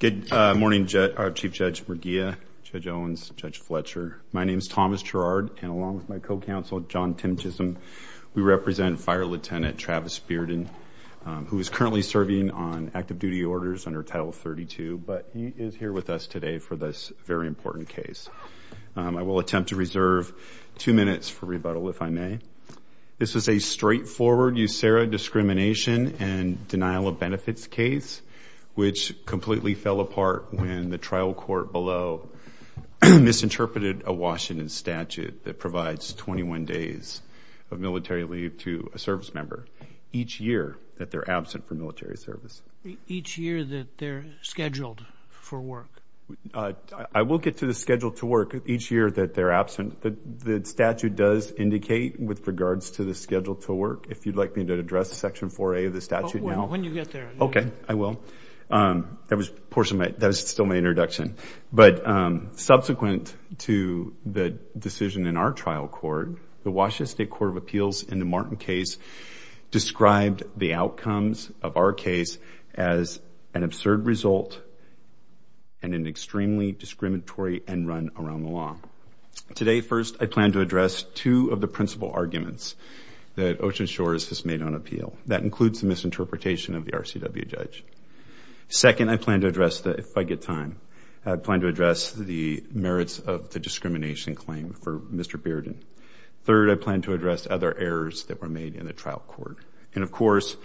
Good morning our Chief Judge McGeough, Judge Owens, Judge Fletcher. My name is Thomas Gerard and along with my co-counsel John Tim Chisholm we represent Fire Lieutenant Travis Bearden who is currently serving on active duty orders under Title 32 but he is here with us today for this very important case. I will attempt to reserve two minutes for rebuttal if I may. This is a straightforward USERRA discrimination and denial of benefits case which completely fell apart when the trial court below misinterpreted a Washington statute that provides 21 days of military leave to a service member each year that they're absent for military service. Each year that they're scheduled for work? I will get to the schedule to work each year that they're absent but the statute does indicate with regards to the schedule to work if you'd like me to address section 4a of the statute now. When you get there. Okay I will. That was portion of it that was still my introduction but subsequent to the decision in our trial court the Washington State Court of Appeals in the Martin case described the outcomes of our case as an absurd result and an extremely discriminatory end run around the law. Today first I plan to address two of the principal arguments that Ocean Shores has made on appeal that includes the misinterpretation of the RCW judge. Second I plan to address the if I get time I plan to address the merits of the discrimination claim for Mr. Bearden. Third I plan to address other errors that were made in the trial court and of course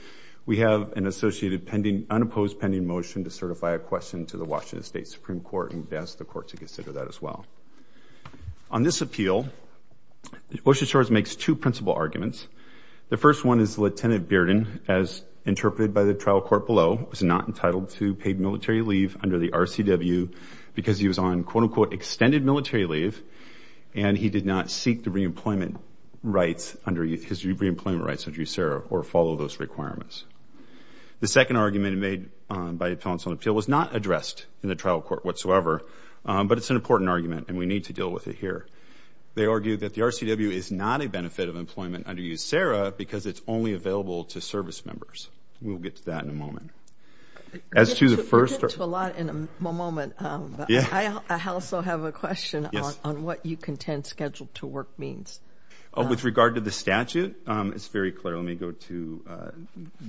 we have an associated pending unopposed pending motion to certify a question to the Washington State Supreme Court and ask the court to consider that as well. On this appeal Ocean Shores makes two principal arguments. The first one is Lt. Bearden as interpreted by the trial court below was not entitled to paid military leave under the RCW because he was on quote-unquote extended military leave and he did not seek the reemployment rights under his reemployment rights under USERRA or follow those requirements. The second argument made by appellants on appeal was not addressed in the trial court whatsoever but it's an important argument and we need to deal with it here. They argue that the RCW is not a benefit of employment under USERRA because it's only available to service members. We'll get to that in a moment. As to the first... We'll get to a lot in a moment. I also have a question on what you contend scheduled-to-work means. With regard to the statute it's very clear let me go to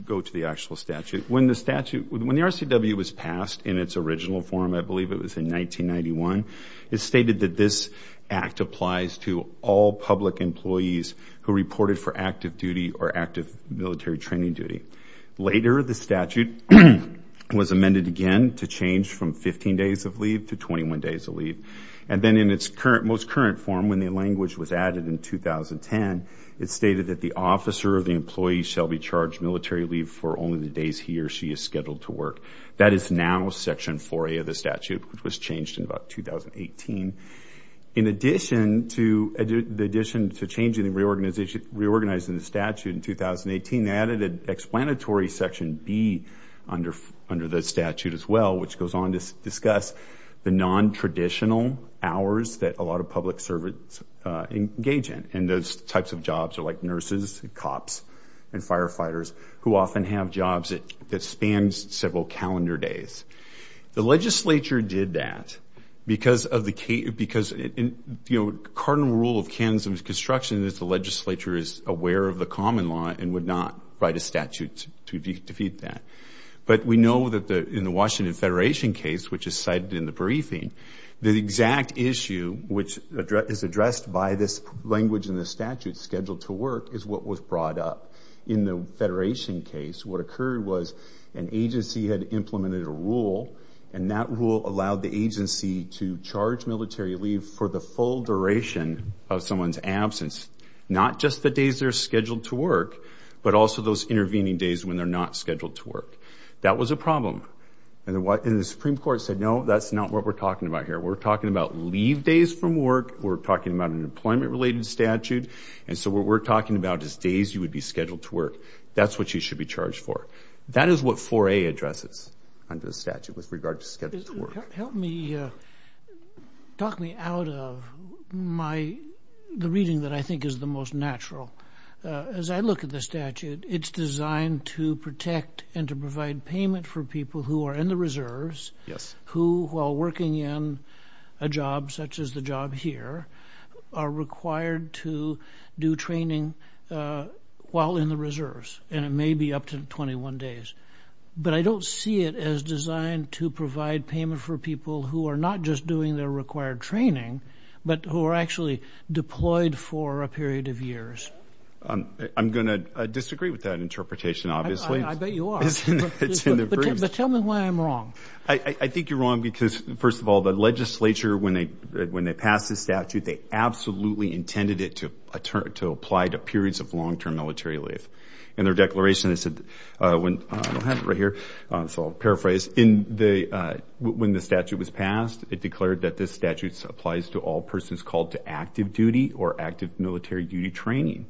go to the actual statute. When the RCW was passed in its original form I believe it was in 1991 it stated that this act applies to all public employees who reported for active duty or active military training duty. Later the statute was amended again to change from 15 days of leave to 21 days of leave and then in its current most current form when the language was added in 2010 it stated that the officer of the employee shall be charged military leave for only the days he or she is scheduled to work. That is now section 4A of the statute which was changed in about 2018. In addition to the addition to changing the reorganization reorganizing the statute in 2018 added an explanatory section B under under the statute as well which goes on to discuss the non-traditional hours that a lot of public servants engage in and those types of jobs are like nurses and cops and firefighters who often have jobs that spans several calendar days. The legislature did that because of the because in you know cardinal rule of Kansans construction is the legislature is aware of the common law and would not write a statute to defeat that. But we know that the in the Washington Federation case which is in the briefing the exact issue which is addressed by this language in the statute scheduled to work is what was brought up. In the Federation case what occurred was an agency had implemented a rule and that rule allowed the agency to charge military leave for the full duration of someone's absence. Not just the days they're scheduled to work but also those intervening days when they're not scheduled to work. That was a problem and what in the Supreme Court said no that's not what we're talking about here. We're talking about leave days from work. We're talking about an employment related statute and so what we're talking about is days you would be scheduled to work. That's what you should be charged for. That is what 4A addresses under the statute with regard to schedule to work. Help me, talk me out of my the reading that I think is the most natural. As I look at the statute it's designed to protect and to provide payment for people who are in the reserves. Yes. Who while working in a job such as the job here are required to do training while in the reserves and it may be up to 21 days. But I don't see it as designed to provide payment for people who are not just doing their required training but who are actually deployed for a period of years. I'm gonna disagree with that interpretation obviously. I bet you are. But tell me why I'm wrong. I think you're wrong because first of all the legislature when they when they passed this statute they absolutely intended it to apply to periods of long-term military leave. In their declaration they said when I'll have it right here so I'll paraphrase in the when the statute was passed it declared that this statute applies to all persons called to active duty or active military duty training.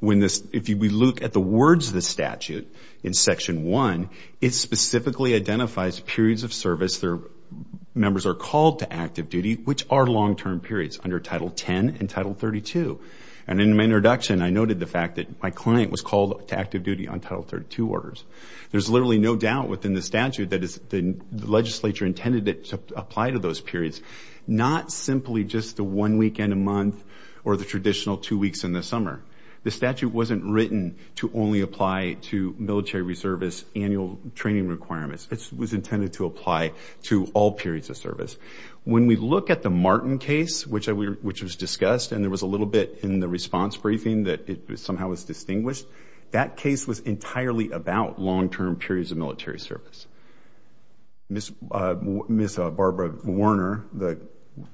When this if you look at the words of the statute in section 1 it specifically identifies periods of service their members are called to active duty which are long-term periods under title 10 and title 32. And in my introduction I noted the fact that my client was called to active duty on title 32 orders. There's literally no doubt within the statute that is the legislature intended it to apply to those periods. Not simply just the one weekend a month or the traditional two only apply to military reservice annual training requirements. It was intended to apply to all periods of service. When we look at the Martin case which I which was discussed and there was a little bit in the response briefing that it somehow was distinguished. That case was entirely about long-term periods of military service. Miss Barbara Werner that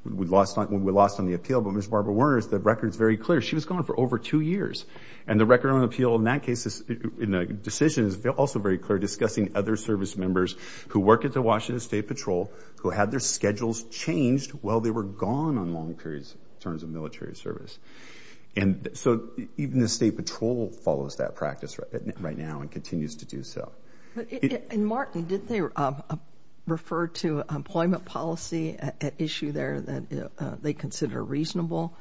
we lost on when we lost on the appeal but Miss Barbara Werner's the records very clear she was gone for over two years and the record on appeal in that case is in a decision is also very clear discussing other service members who work at the Washington State Patrol who had their schedules changed while they were gone on long periods in terms of military service. And so even the State Patrol follows that practice right now and continues to do so. And Martin did they refer to employment policy issue there that they consider reasonable?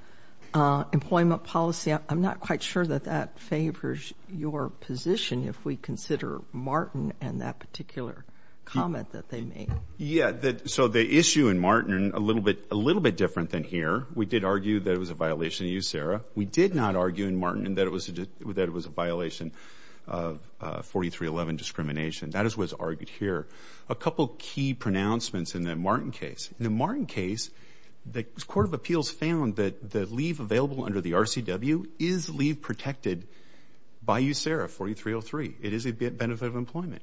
Employment policy I'm not quite sure that that favors your position if we consider Martin and that particular comment that they made. Yeah that so the issue in Martin a little bit a little bit different than here. We did argue that it was a violation of you Sarah. We did not argue in Martin that it was that it was a violation of 4311 discrimination. That is what's argued here. A couple key pronouncements in the Martin case. In the Martin case the Court of Appeals found that the leave available under the RCW is leave protected by you Sarah 4303. It is a bit benefit of employment.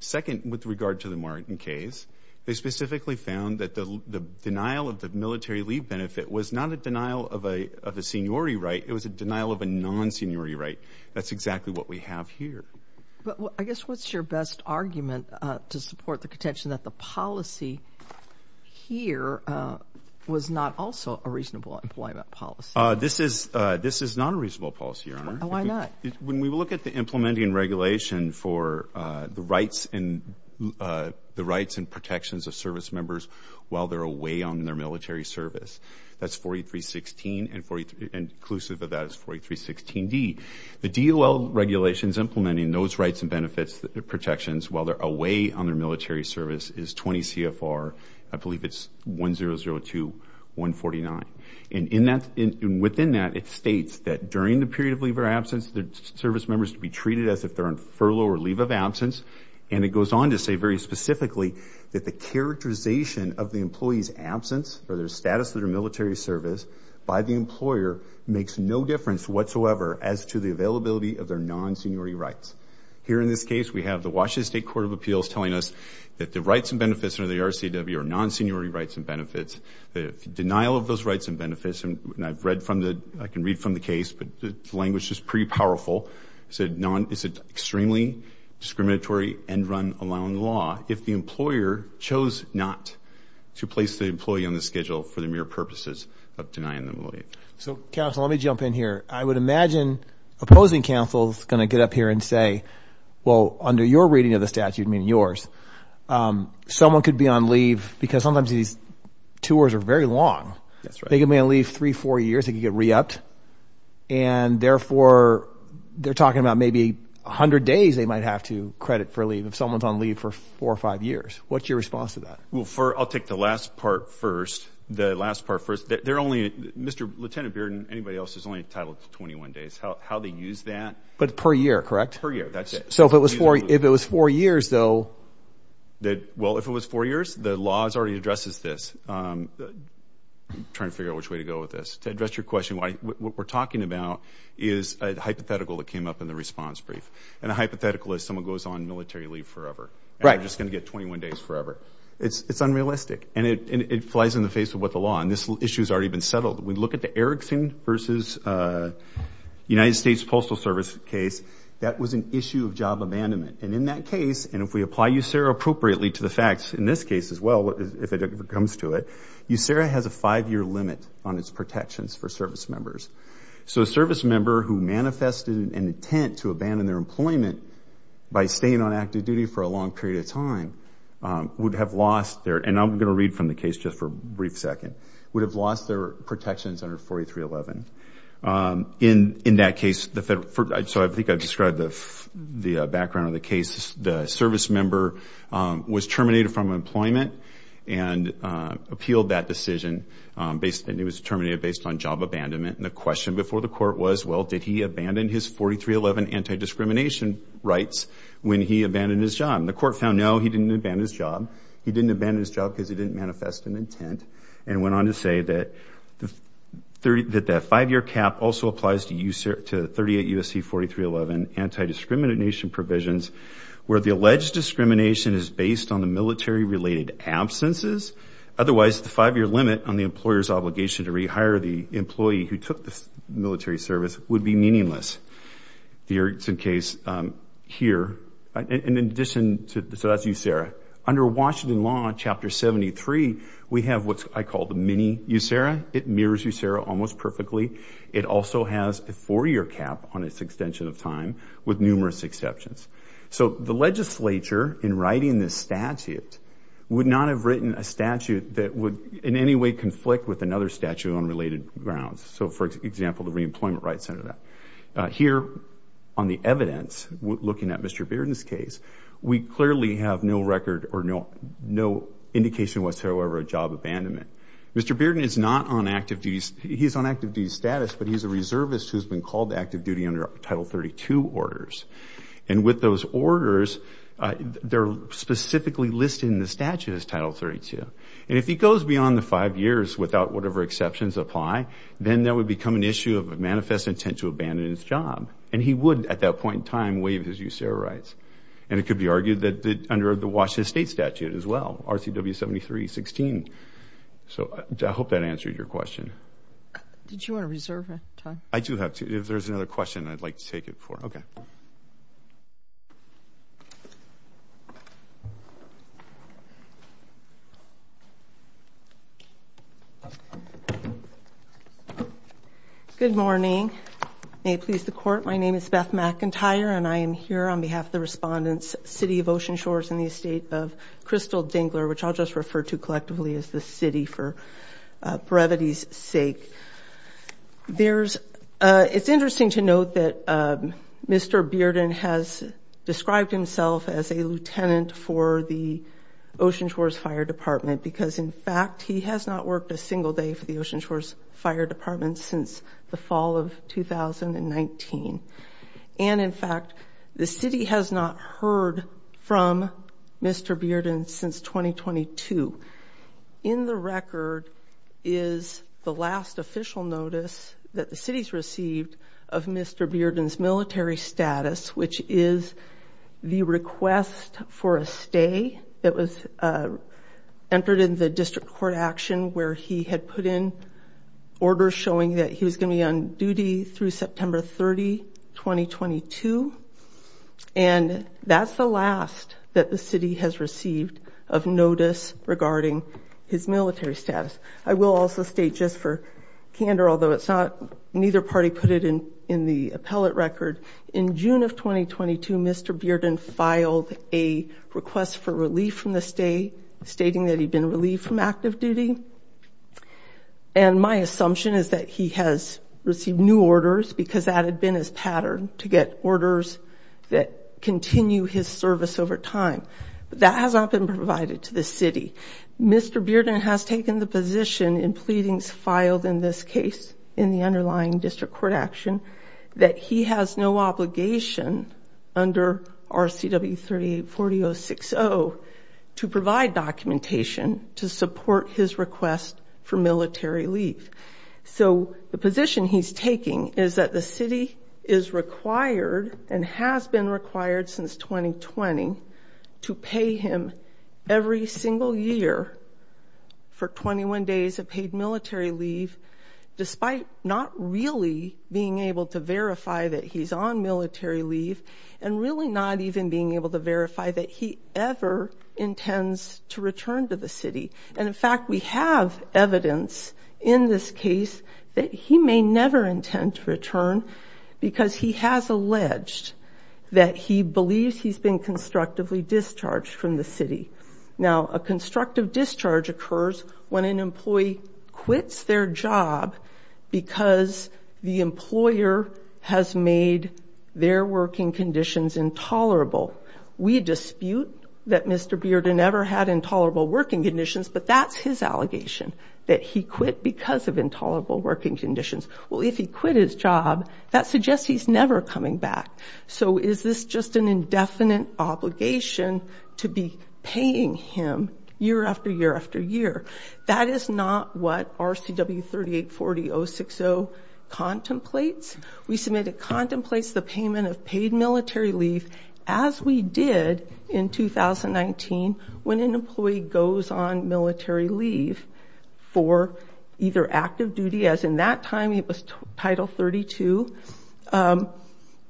Second with regard to the Martin case they specifically found that the denial of the military leave benefit was not a denial of a of a seniority right it was a denial of a non-seniority right. That's exactly what we have here. I guess what's your best argument to support the contention that the policy here was not also a reasonable employment policy? This is this is not a reasonable policy your honor. Why not? When we look at the implementing regulation for the rights and the rights and protections of service members while they're away on their military service that's 4316 and for inclusive of that is 4316 D. The DOL regulations implementing those rights and benefits protections while they're away on their military service is 20 CFR I believe it's 1002149 and in that in within that it states that during the period of leave or absence the service members to be treated as if they're on furlough or leave of absence and it goes on to say very specifically that the characterization of the employees absence or their status of their military service by the employer makes no difference whatsoever as to the we have the Washington State Court of Appeals telling us that the rights and benefits under the RCW are non-seniority rights and benefits the denial of those rights and benefits and I've read from the I can read from the case but the language is pretty powerful said none is it extremely discriminatory and run along law if the employer chose not to place the employee on the schedule for the mere purposes of denying them leave. So counsel let me jump in here I would under your reading of the statute meaning yours someone could be on leave because sometimes these tours are very long that's right they can be on leave three four years they could get re-upped and therefore they're talking about maybe a hundred days they might have to credit for leave if someone's on leave for four or five years what's your response to that? Well for I'll take the last part first the last part first they're only mr. lieutenant beard and anybody else is only entitled to 21 days how they use that but per year correct per year that's it so if it was for if it was four years though that well if it was four years the laws already addresses this trying to figure out which way to go with this to address your question why what we're talking about is a hypothetical that came up in the response brief and a hypothetical is someone goes on military leave forever right I'm just gonna get 21 days forever it's it's unrealistic and it flies in the face of what the law and this issue has already been settled we look at the Erickson versus United States Postal Service case that was an issue of job abandonment and in that case and if we apply you Sarah appropriately to the facts in this case as well if it comes to it you Sarah has a five-year limit on its protections for service members so a service member who manifested an intent to abandon their employment by staying on active duty for a long period of time would have lost there and I'm gonna read from the case just for a brief second would have lost their protections under 4311 in in that case the federal so I think I've described the the background of the case the service member was terminated from employment and appealed that decision based and it was terminated based on job abandonment and the question before the court was well did he abandon his 4311 anti-discrimination rights when he abandoned his job the court found no he didn't abandon his job he didn't abandon his job because he didn't manifest an intent and went on to say that the 30 that that five-year cap also applies to you sir to 38 USC 4311 anti-discrimination provisions where the alleged discrimination is based on the military related absences otherwise the five-year limit on the employer's obligation to rehire the employee who took this military service would be meaningless the Erickson case here in addition to the so that's you Sarah under Washington law on chapter 73 we have what I call the mini you Sarah it mirrors you Sarah almost perfectly it also has a four-year cap on its extension of time with numerous exceptions so the legislature in writing this statute would not have written a statute that would in any way conflict with another statute on related grounds so for example the Reemployment Rights Center that here on the evidence looking at mr. Bearden's case we clearly have no record or no no indication whatsoever a job abandonment mr. Bearden is not on active duties he's on active duty status but he's a reservist who's been called active duty under title 32 orders and with those orders they're specifically listed in the statute as title 32 and if he goes beyond the five years without whatever exceptions apply then that would become an issue of a manifest intent to abandon his job and he would at that point in time waive his use and it could be argued that the under the Washington state statute as well RCW 73 16 so I hope that answered your question did you want to reserve I do have to if there's another question I'd like to take it for okay good morning may it please the court my name is Beth McIntyre and I am here on behalf of the respondents City of Ocean Shores in the estate of Crystal Dingler which I'll just refer to collectively as the city for brevity's sake there's it's interesting to note that mr. Bearden has described himself as a lieutenant for the Ocean Shores Fire Department because in fact he has not worked a single day for the Ocean Shores Fire Department since the fall of 2019 and in fact the city has not heard from mr. Bearden since 2022 in the record is the last official notice that the city's received of mr. Bearden's military status which is the request for a stay that was entered in the district court action where he had put in orders showing that he was going to be on duty through and that's the last that the city has received of notice regarding his military status I will also state just for candor although it's not neither party put it in in the appellate record in June of 2022 mr. Bearden filed a request for relief from the state stating that he'd been relieved from active duty and my assumption is that he has received new orders because that had been his pattern to get orders that continue his service over time that has not been provided to the city mr. Bearden has taken the position in pleadings filed in this case in the underlying district court action that he has no obligation under our CW 340 060 to provide documentation to support his for military leave so the position he's taking is that the city is required and has been required since 2020 to pay him every single year for 21 days of paid military leave despite not really being able to verify that he's on military leave and really not even being able to verify that he ever intends to return to the city and in fact we have evidence in this case that he may never intend to return because he has alleged that he believes he's been constructively discharged from the city now a constructive discharge occurs when an employee quits their job because the employer has made their working conditions intolerable we dispute that mr. Bearden ever had intolerable working conditions but that's his allegation that he quit because of intolerable working conditions well if he quit his job that suggests he's never coming back so is this just an indefinite obligation to be paying him year after year after year that is not what our CW 3840 060 contemplates we submitted contemplates the payment of paid military leave as we did in 2019 when an employee goes on military leave for either active duty as in that time it was title 32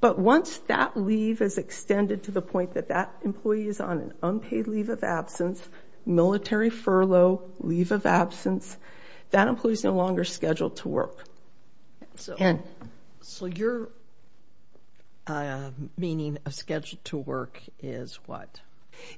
but once that leave is extended to the point that that employee is on an unpaid leave of absence military furlough leave of absence that employees no longer scheduled to work so and so your meaning of scheduled to work is what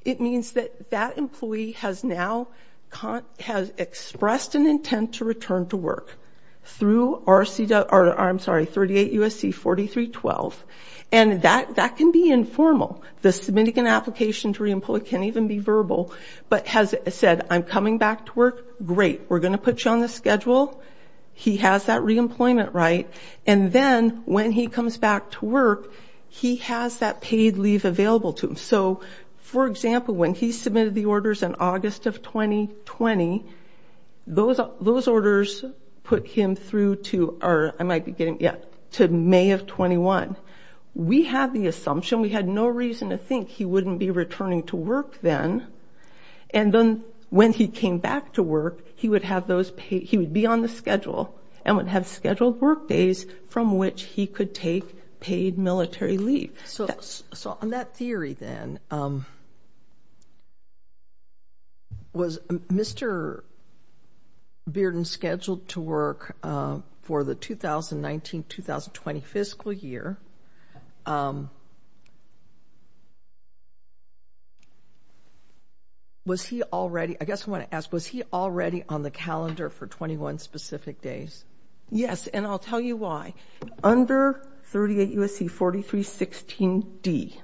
it means that that employee has now can't has expressed an intent to return to work through our CDA or I'm sorry 38 USC 43 12 and that that can be informal the submitting an application to reemploy can't even be verbal but has said I'm coming back to work great we're gonna put you on the schedule he has that reemployment right and then when he comes back to work he has that paid leave available to him so for example when he submitted the orders in August of 2020 those those orders put him through to our I might be getting yet to May of 21 we have the assumption we had no reason to think he wouldn't be returning to work then and then when he came back to work he would have those paid he would be on the schedule and which he could take paid military leave so so on that theory then was mr. Bearden scheduled to work for the 2019-2020 fiscal year was he already I guess I want to ask was he already on the calendar for 21 specific days yes and I'll tell you why under 38 USC 43 16 D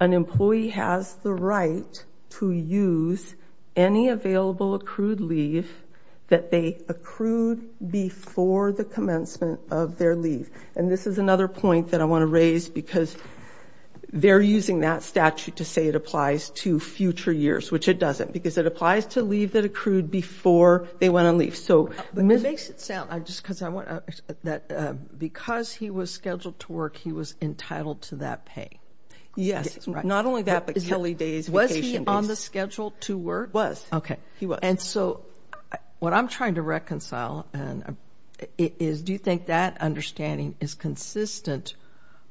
an employee has the right to use any available accrued leave that they accrued before the commencement of their leave and this is another point that I want to raise because they're using that statute to say it applies to future years which it doesn't because it applies to leave that accrued before they went on leave so but it makes it just because I want that because he was scheduled to work he was entitled to that pay yes not only that but Kelly days was he on the schedule to work was okay he was and so what I'm trying to reconcile and it is do you think that understanding is consistent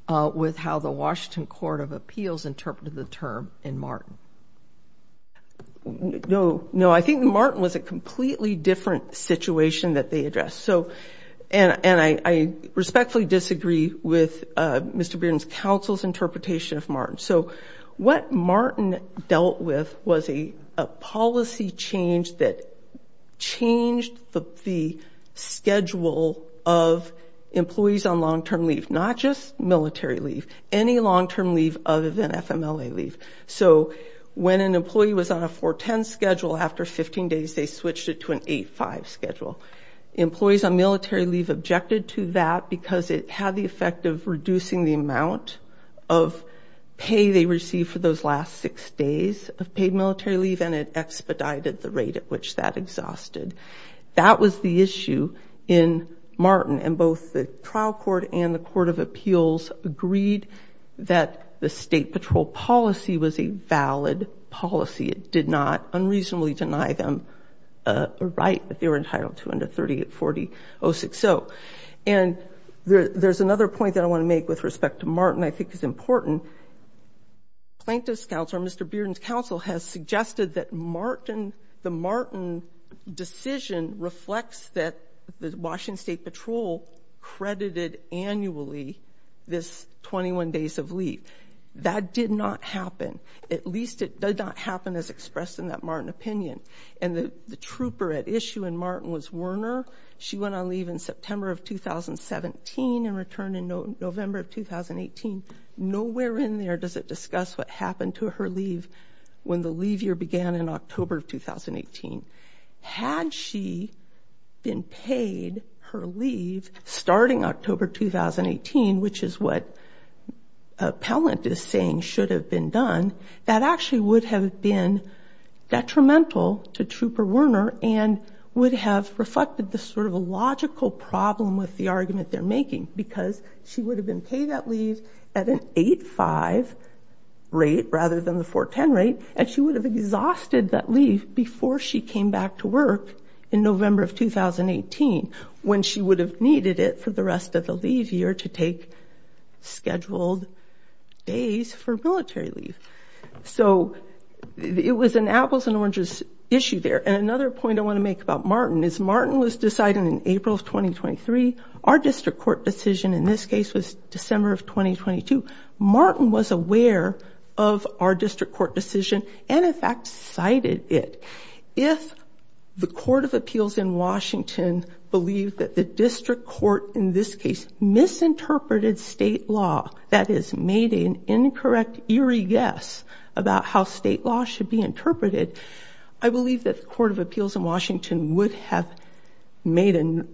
with how the Washington Court of Appeals interpreted the term in Martin no no I think Martin was a completely different situation that they addressed so and and I respectfully disagree with mr. Bearden's counsel's interpretation of Martin so what Martin dealt with was a policy change that changed the schedule of employees on long-term leave not just military leave any long-term leave other than FMLA leave so when an employee was on a 410 schedule after 15 days they switched it to an 85 schedule employees on military leave objected to that because it had the effect of reducing the amount of pay they received for those last six days of paid military leave and it expedited the rate at which that exhausted that was the issue in Martin and both the trial court and the Court of Appeals agreed that the state patrol policy was a valid policy it did not unreasonably deny them a right but they were entitled to under 38 40 0 6 0 and there's another point that I want to make with respect to Martin I think is important plaintiffs counselor mr. Bearden's counsel has suggested that Martin the Martin decision reflects that the Washington State Patrol credited annually this 21 days of leave that did not happen at least it does not happen as expressed in that Martin opinion and the trooper at issue and Martin was Werner she went on leave in September of 2017 and returned in November of 2018 nowhere in there does it discuss what happened to her leave when the leave year began in October of 2018 had she been paid her leave starting October 2018 which is what a pellet is saying should have been done that actually would have been detrimental to trooper Werner and would have reflected the sort of a logical problem with the argument they're making because she would have been paid that leave at an 8-5 rate rather than the 4-10 rate and she would have exhausted that leave before she came back to work in November of 2018 when she would have needed it for the rest of the leave year to take scheduled days for military leave so it was an apples-and-oranges issue there and another point I want to make about Martin is Martin was decided in April of 2023 our district court decision in this case was December of 2022 Martin was aware of our district court decision and in fact cited it if the Court of Appeals in Washington believed that the district court in this case misinterpreted state law that is made an incorrect eerie guess about how state law should be interpreted I believe that the Court of Appeals in Washington would have made and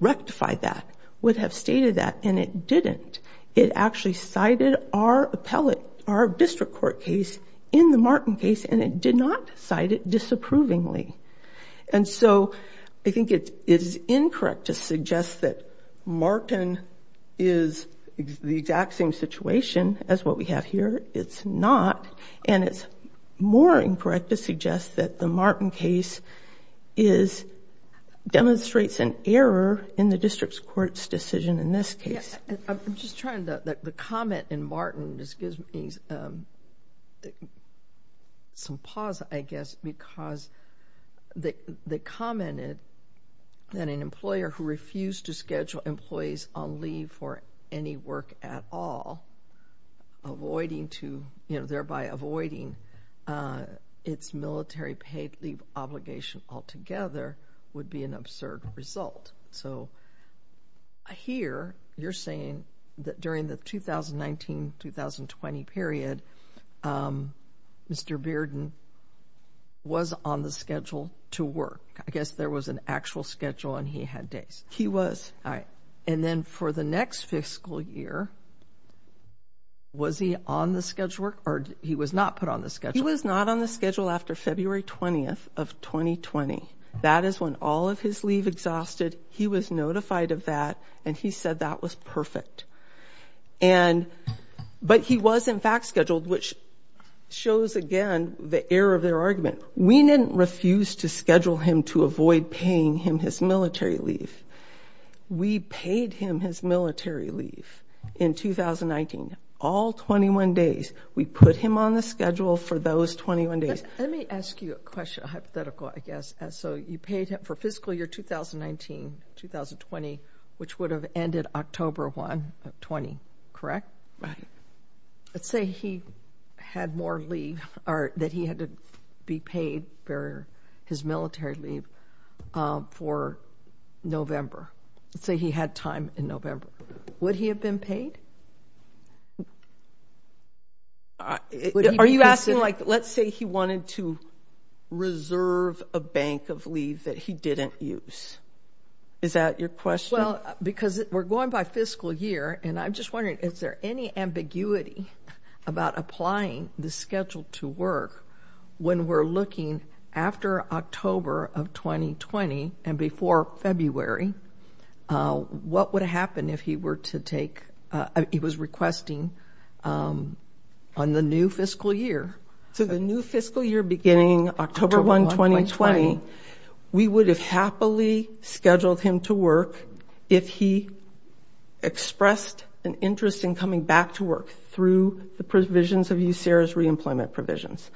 rectified that would have stated that and it didn't it actually cited our appellate our district court case in the Martin case and it did not cite it disapprovingly and so I think it is incorrect to suggest that Martin is the exact same situation as what we have here it's not and it's more incorrect to suggest that the Martin case is demonstrates an error in the district's courts decision in this case I'm just trying to the comment in Martin this gives me some pause I guess because they commented that an employer who refused to schedule employees on leave for any work at all avoiding to you know thereby avoiding its military paid leave obligation altogether would be an absurd result so here you're saying that during the 2019-2020 period Mr. Bearden was on the schedule to work I guess there was an actual schedule and he had days he was I and then for the next fiscal year was he on the schedule or he was not put on the schedule was not on the schedule after February 20th of 2020 that is when all of his leave exhausted he was notified of that and he said that was perfect and but he was in fact scheduled which shows again the error of their argument we didn't refuse to schedule him to avoid paying him his military leave we paid him his military leave in 2019 all 21 days we put him on the schedule for those 21 days let me 2019-2020 which would have ended October 1 of 20 correct right let's say he had more leave or that he had to be paid for his military leave for November say he had time in November would he have been paid are you asking like let's say he is that your question well because we're going by fiscal year and I'm just wondering is there any ambiguity about applying the schedule to work when we're looking after October of 2020 and before February what would happen if he were to take he was requesting on the new fiscal year so the new fiscal year beginning October 1 2020 we would have happily scheduled him to work if he expressed an interest in coming back to work through the provisions of you Sarah's reemployment provisions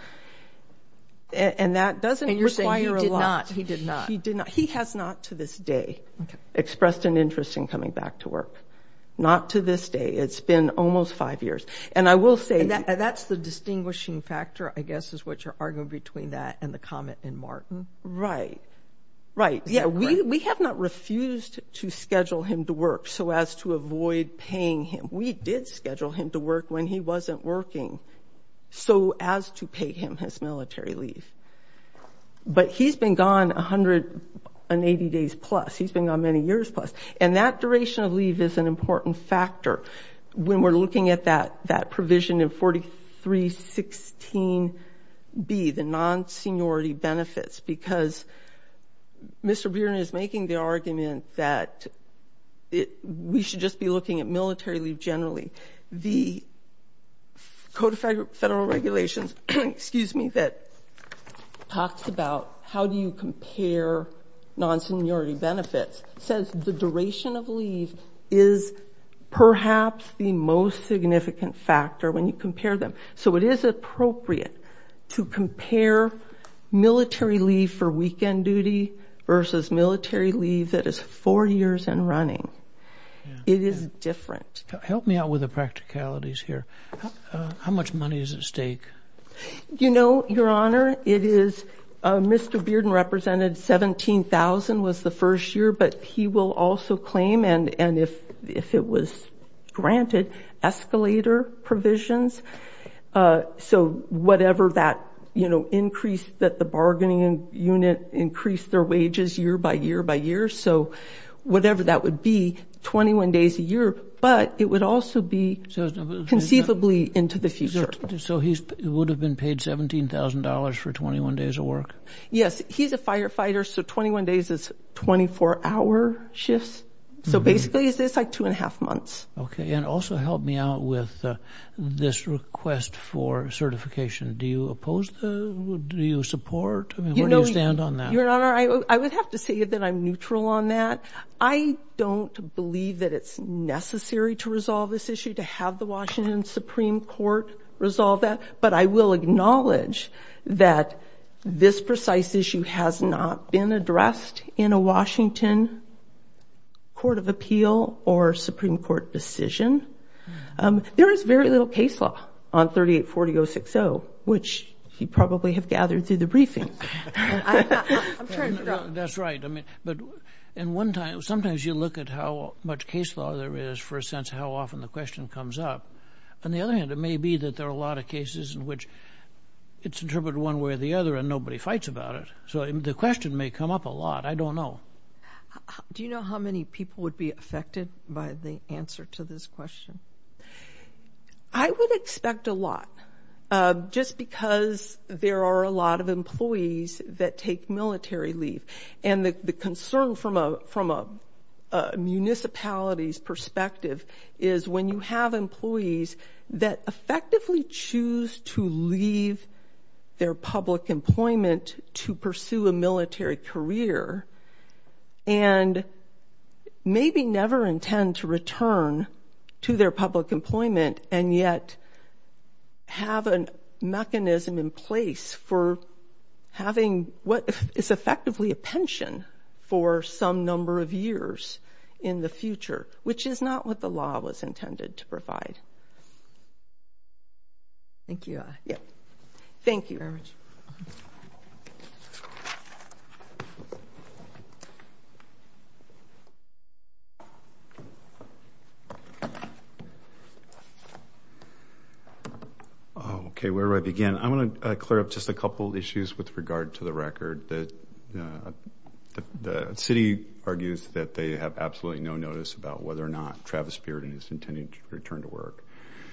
and that doesn't you're saying you're a lot he did not he did not he has not to this day expressed an interest in coming back to work not to this day it's been almost five years and I will say that that's the between that and the comment in Martin right right yeah we we have not refused to schedule him to work so as to avoid paying him we did schedule him to work when he wasn't working so as to pay him his military leave but he's been gone a hundred and eighty days plus he's been gone many years plus and that duration of leave is an important factor when we're looking at that that provision in 4316 be the non-seniority benefits because mr. Beard is making the argument that it we should just be looking at military leave generally the codified federal regulations excuse me that talks about how do you compare non-seniority benefits says the duration of leave is perhaps the most significant factor when you compare them so it is appropriate to compare military leave for weekend duty versus military leave that is four years and running it is different help me out with the practicalities here how much money is at stake you know your honor it is mr. Bearden represented 17,000 was the first year but he will also claim and and if if it was granted escalator provisions so whatever that you know increased that the bargaining unit increased their wages year by year by year so whatever that would be 21 days a year but it would also be conceivably into the future so he would have been paid $17,000 for 21 days of he's a firefighter so 21 days is 24 hour shifts so basically is this like two and a half months okay and also help me out with this request for certification do you oppose the do you support you know you stand on that your honor I would have to say that I'm neutral on that I don't believe that it's necessary to resolve this issue to have the Washington Supreme Court resolve that but I will acknowledge that this precise issue has not been addressed in a Washington Court of Appeal or Supreme Court decision there is very little case law on 3840 060 which you probably have gathered through the briefing that's right I mean but in one time sometimes you look at how much case law there is for a sense how often the question comes up on the other hand it may be that there are a lot of cases in which it's interpreted one way or the other and nobody fights about it so the question may come up a lot I don't know do you know how many people would be affected by the answer to this question I would expect a lot just because there are a lot of employees that take military leave and the concern from a from a municipalities perspective is when you have employees that effectively choose to leave their public employment to pursue a military career and maybe never intend to return to their public employment and yet have a mechanism in place for having what is effectively a pension for some number of years in the future which is not what the law was provide thank you yeah thank you very much okay where I begin I'm going to clear up just a couple issues with regard to the record that the city argues that they have absolutely no notice about whether or not Travis Bearden is intending to return to work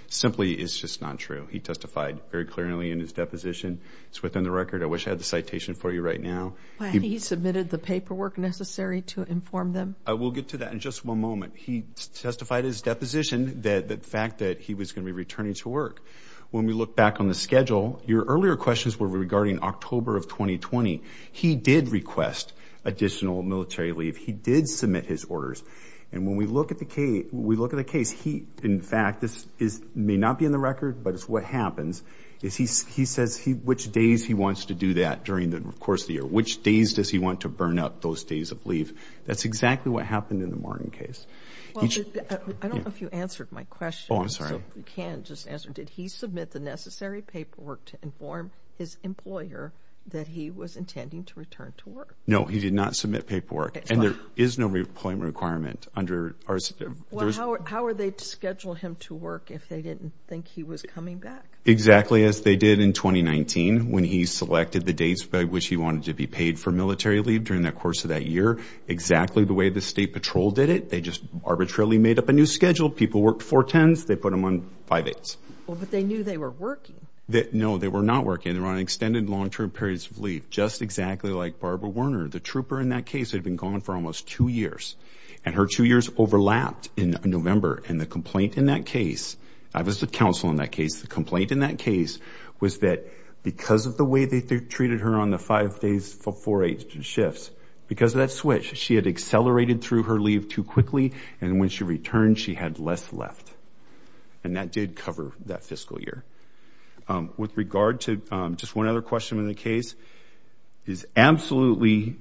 simply it's just not true he testified very clearly in his deposition it's within the record I wish I had the citation for you right now he submitted the paperwork necessary to inform them I will get to that in just one moment he testified his deposition that the fact that he was going to be returning to work when we look back on the schedule your earlier questions were regarding October of 2020 he did request additional military leave he did submit his orders and when we look at the key we look at the case he in fact this is may not be in the record but it's what happens is he says he which days he wants to do that during the course of the year which days does he want to burn up those days of leave that's exactly what happened in the Martin case I don't know if you answered my question I'm sorry you can't just answer did he submit the necessary paperwork to inform his employer that he was intending to return to work no he did not submit paperwork and there is no requirement under our schedule how are they to schedule him to work if they didn't think he was coming back exactly as they did in 2019 when he selected the dates by which he wanted to be paid for military leave during that course of that year exactly the way the State Patrol did it they just arbitrarily made up a new schedule people worked for tens they put him on five eights well but they knew they were working that no they were not working they're on extended long-term periods of leave just exactly like Barbara Werner the trooper in that case had been gone for almost two years and her two years overlapped in November and the complaint in that case I was the counsel in that case the complaint in that case was that because of the way they treated her on the five days for four eight shifts because of that switch she had accelerated through her leave too quickly and when she returned she had less left and that did cover that fiscal year with regard to just one other question in the case is absolutely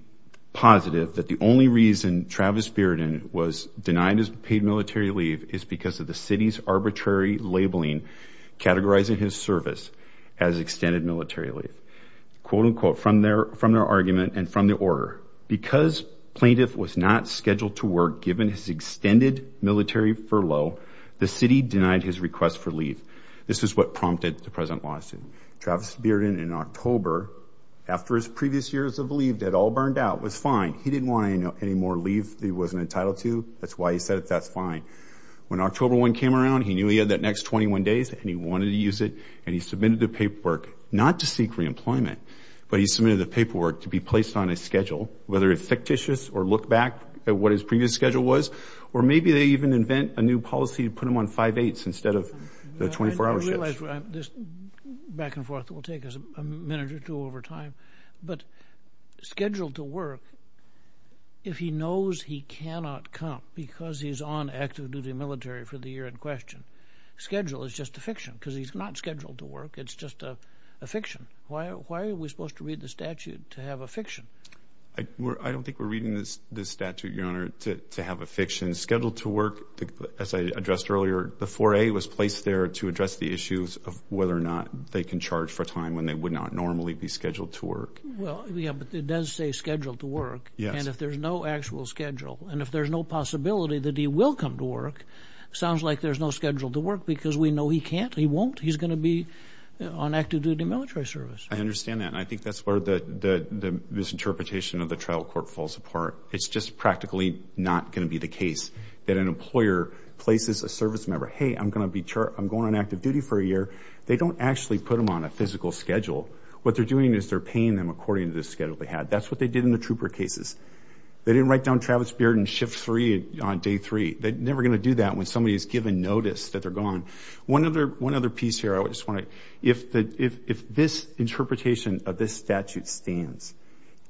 positive that the only reason Travis Bearden was denied his paid military leave is because of the city's arbitrary labeling categorizing his service as extended military leave quote-unquote from their from their argument and from the order because plaintiff was not furlough the city denied his request for leave this is what prompted the present lawsuit Travis Bearden in October after his previous years of leave that all burned out was fine he didn't want any more leave he wasn't entitled to that's why he said that's fine when October one came around he knew he had that next 21 days and he wanted to use it and he submitted the paperwork not to seek reemployment but he submitted the paperwork to be placed on a schedule whether it's fictitious or look back at what his previous schedule was or maybe they even invent a new policy to put him on five eights instead of the 24 hours back and forth will take us a minute or two over time but scheduled to work if he knows he cannot come because he's on active-duty military for the year in question schedule is just a fiction because he's not scheduled to work it's just a fiction why are we supposed to read the statute to have a fiction I don't think we're reading this this statute your honor to have a schedule to work as I addressed earlier the 4a was placed there to address the issues of whether or not they can charge for time when they would not normally be scheduled to work well yeah but it does say scheduled to work yeah and if there's no actual schedule and if there's no possibility that he will come to work sounds like there's no schedule to work because we know he can't he won't he's gonna be on active-duty military service I understand that and I think that's where the misinterpretation of the trial court falls apart it's just practically not going to be the case that an employer places a service member hey I'm gonna be sure I'm going on active-duty for a year they don't actually put them on a physical schedule what they're doing is they're paying them according to this schedule they had that's what they did in the trooper cases they didn't write down Travis Bearden shift 3 on day 3 they're never gonna do that when somebody has given notice that they're gone one other one other piece here I would just want to if the if this interpretation of this stands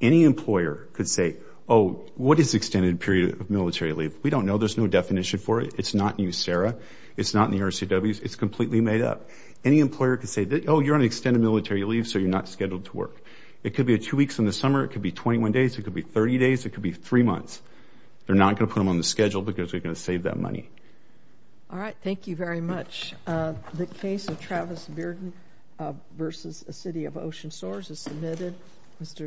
any employer could say oh what is extended period of military leave we don't know there's no definition for it it's not you Sarah it's not in the RCW it's completely made up any employer could say that oh you're on extended military leave so you're not scheduled to work it could be a two weeks in the summer it could be 21 days it could be 30 days it could be three months they're not gonna put them on the schedule because we're gonna save that money all right thank you very much the case of Travis Bearden versus a city of ocean source is submitted mr.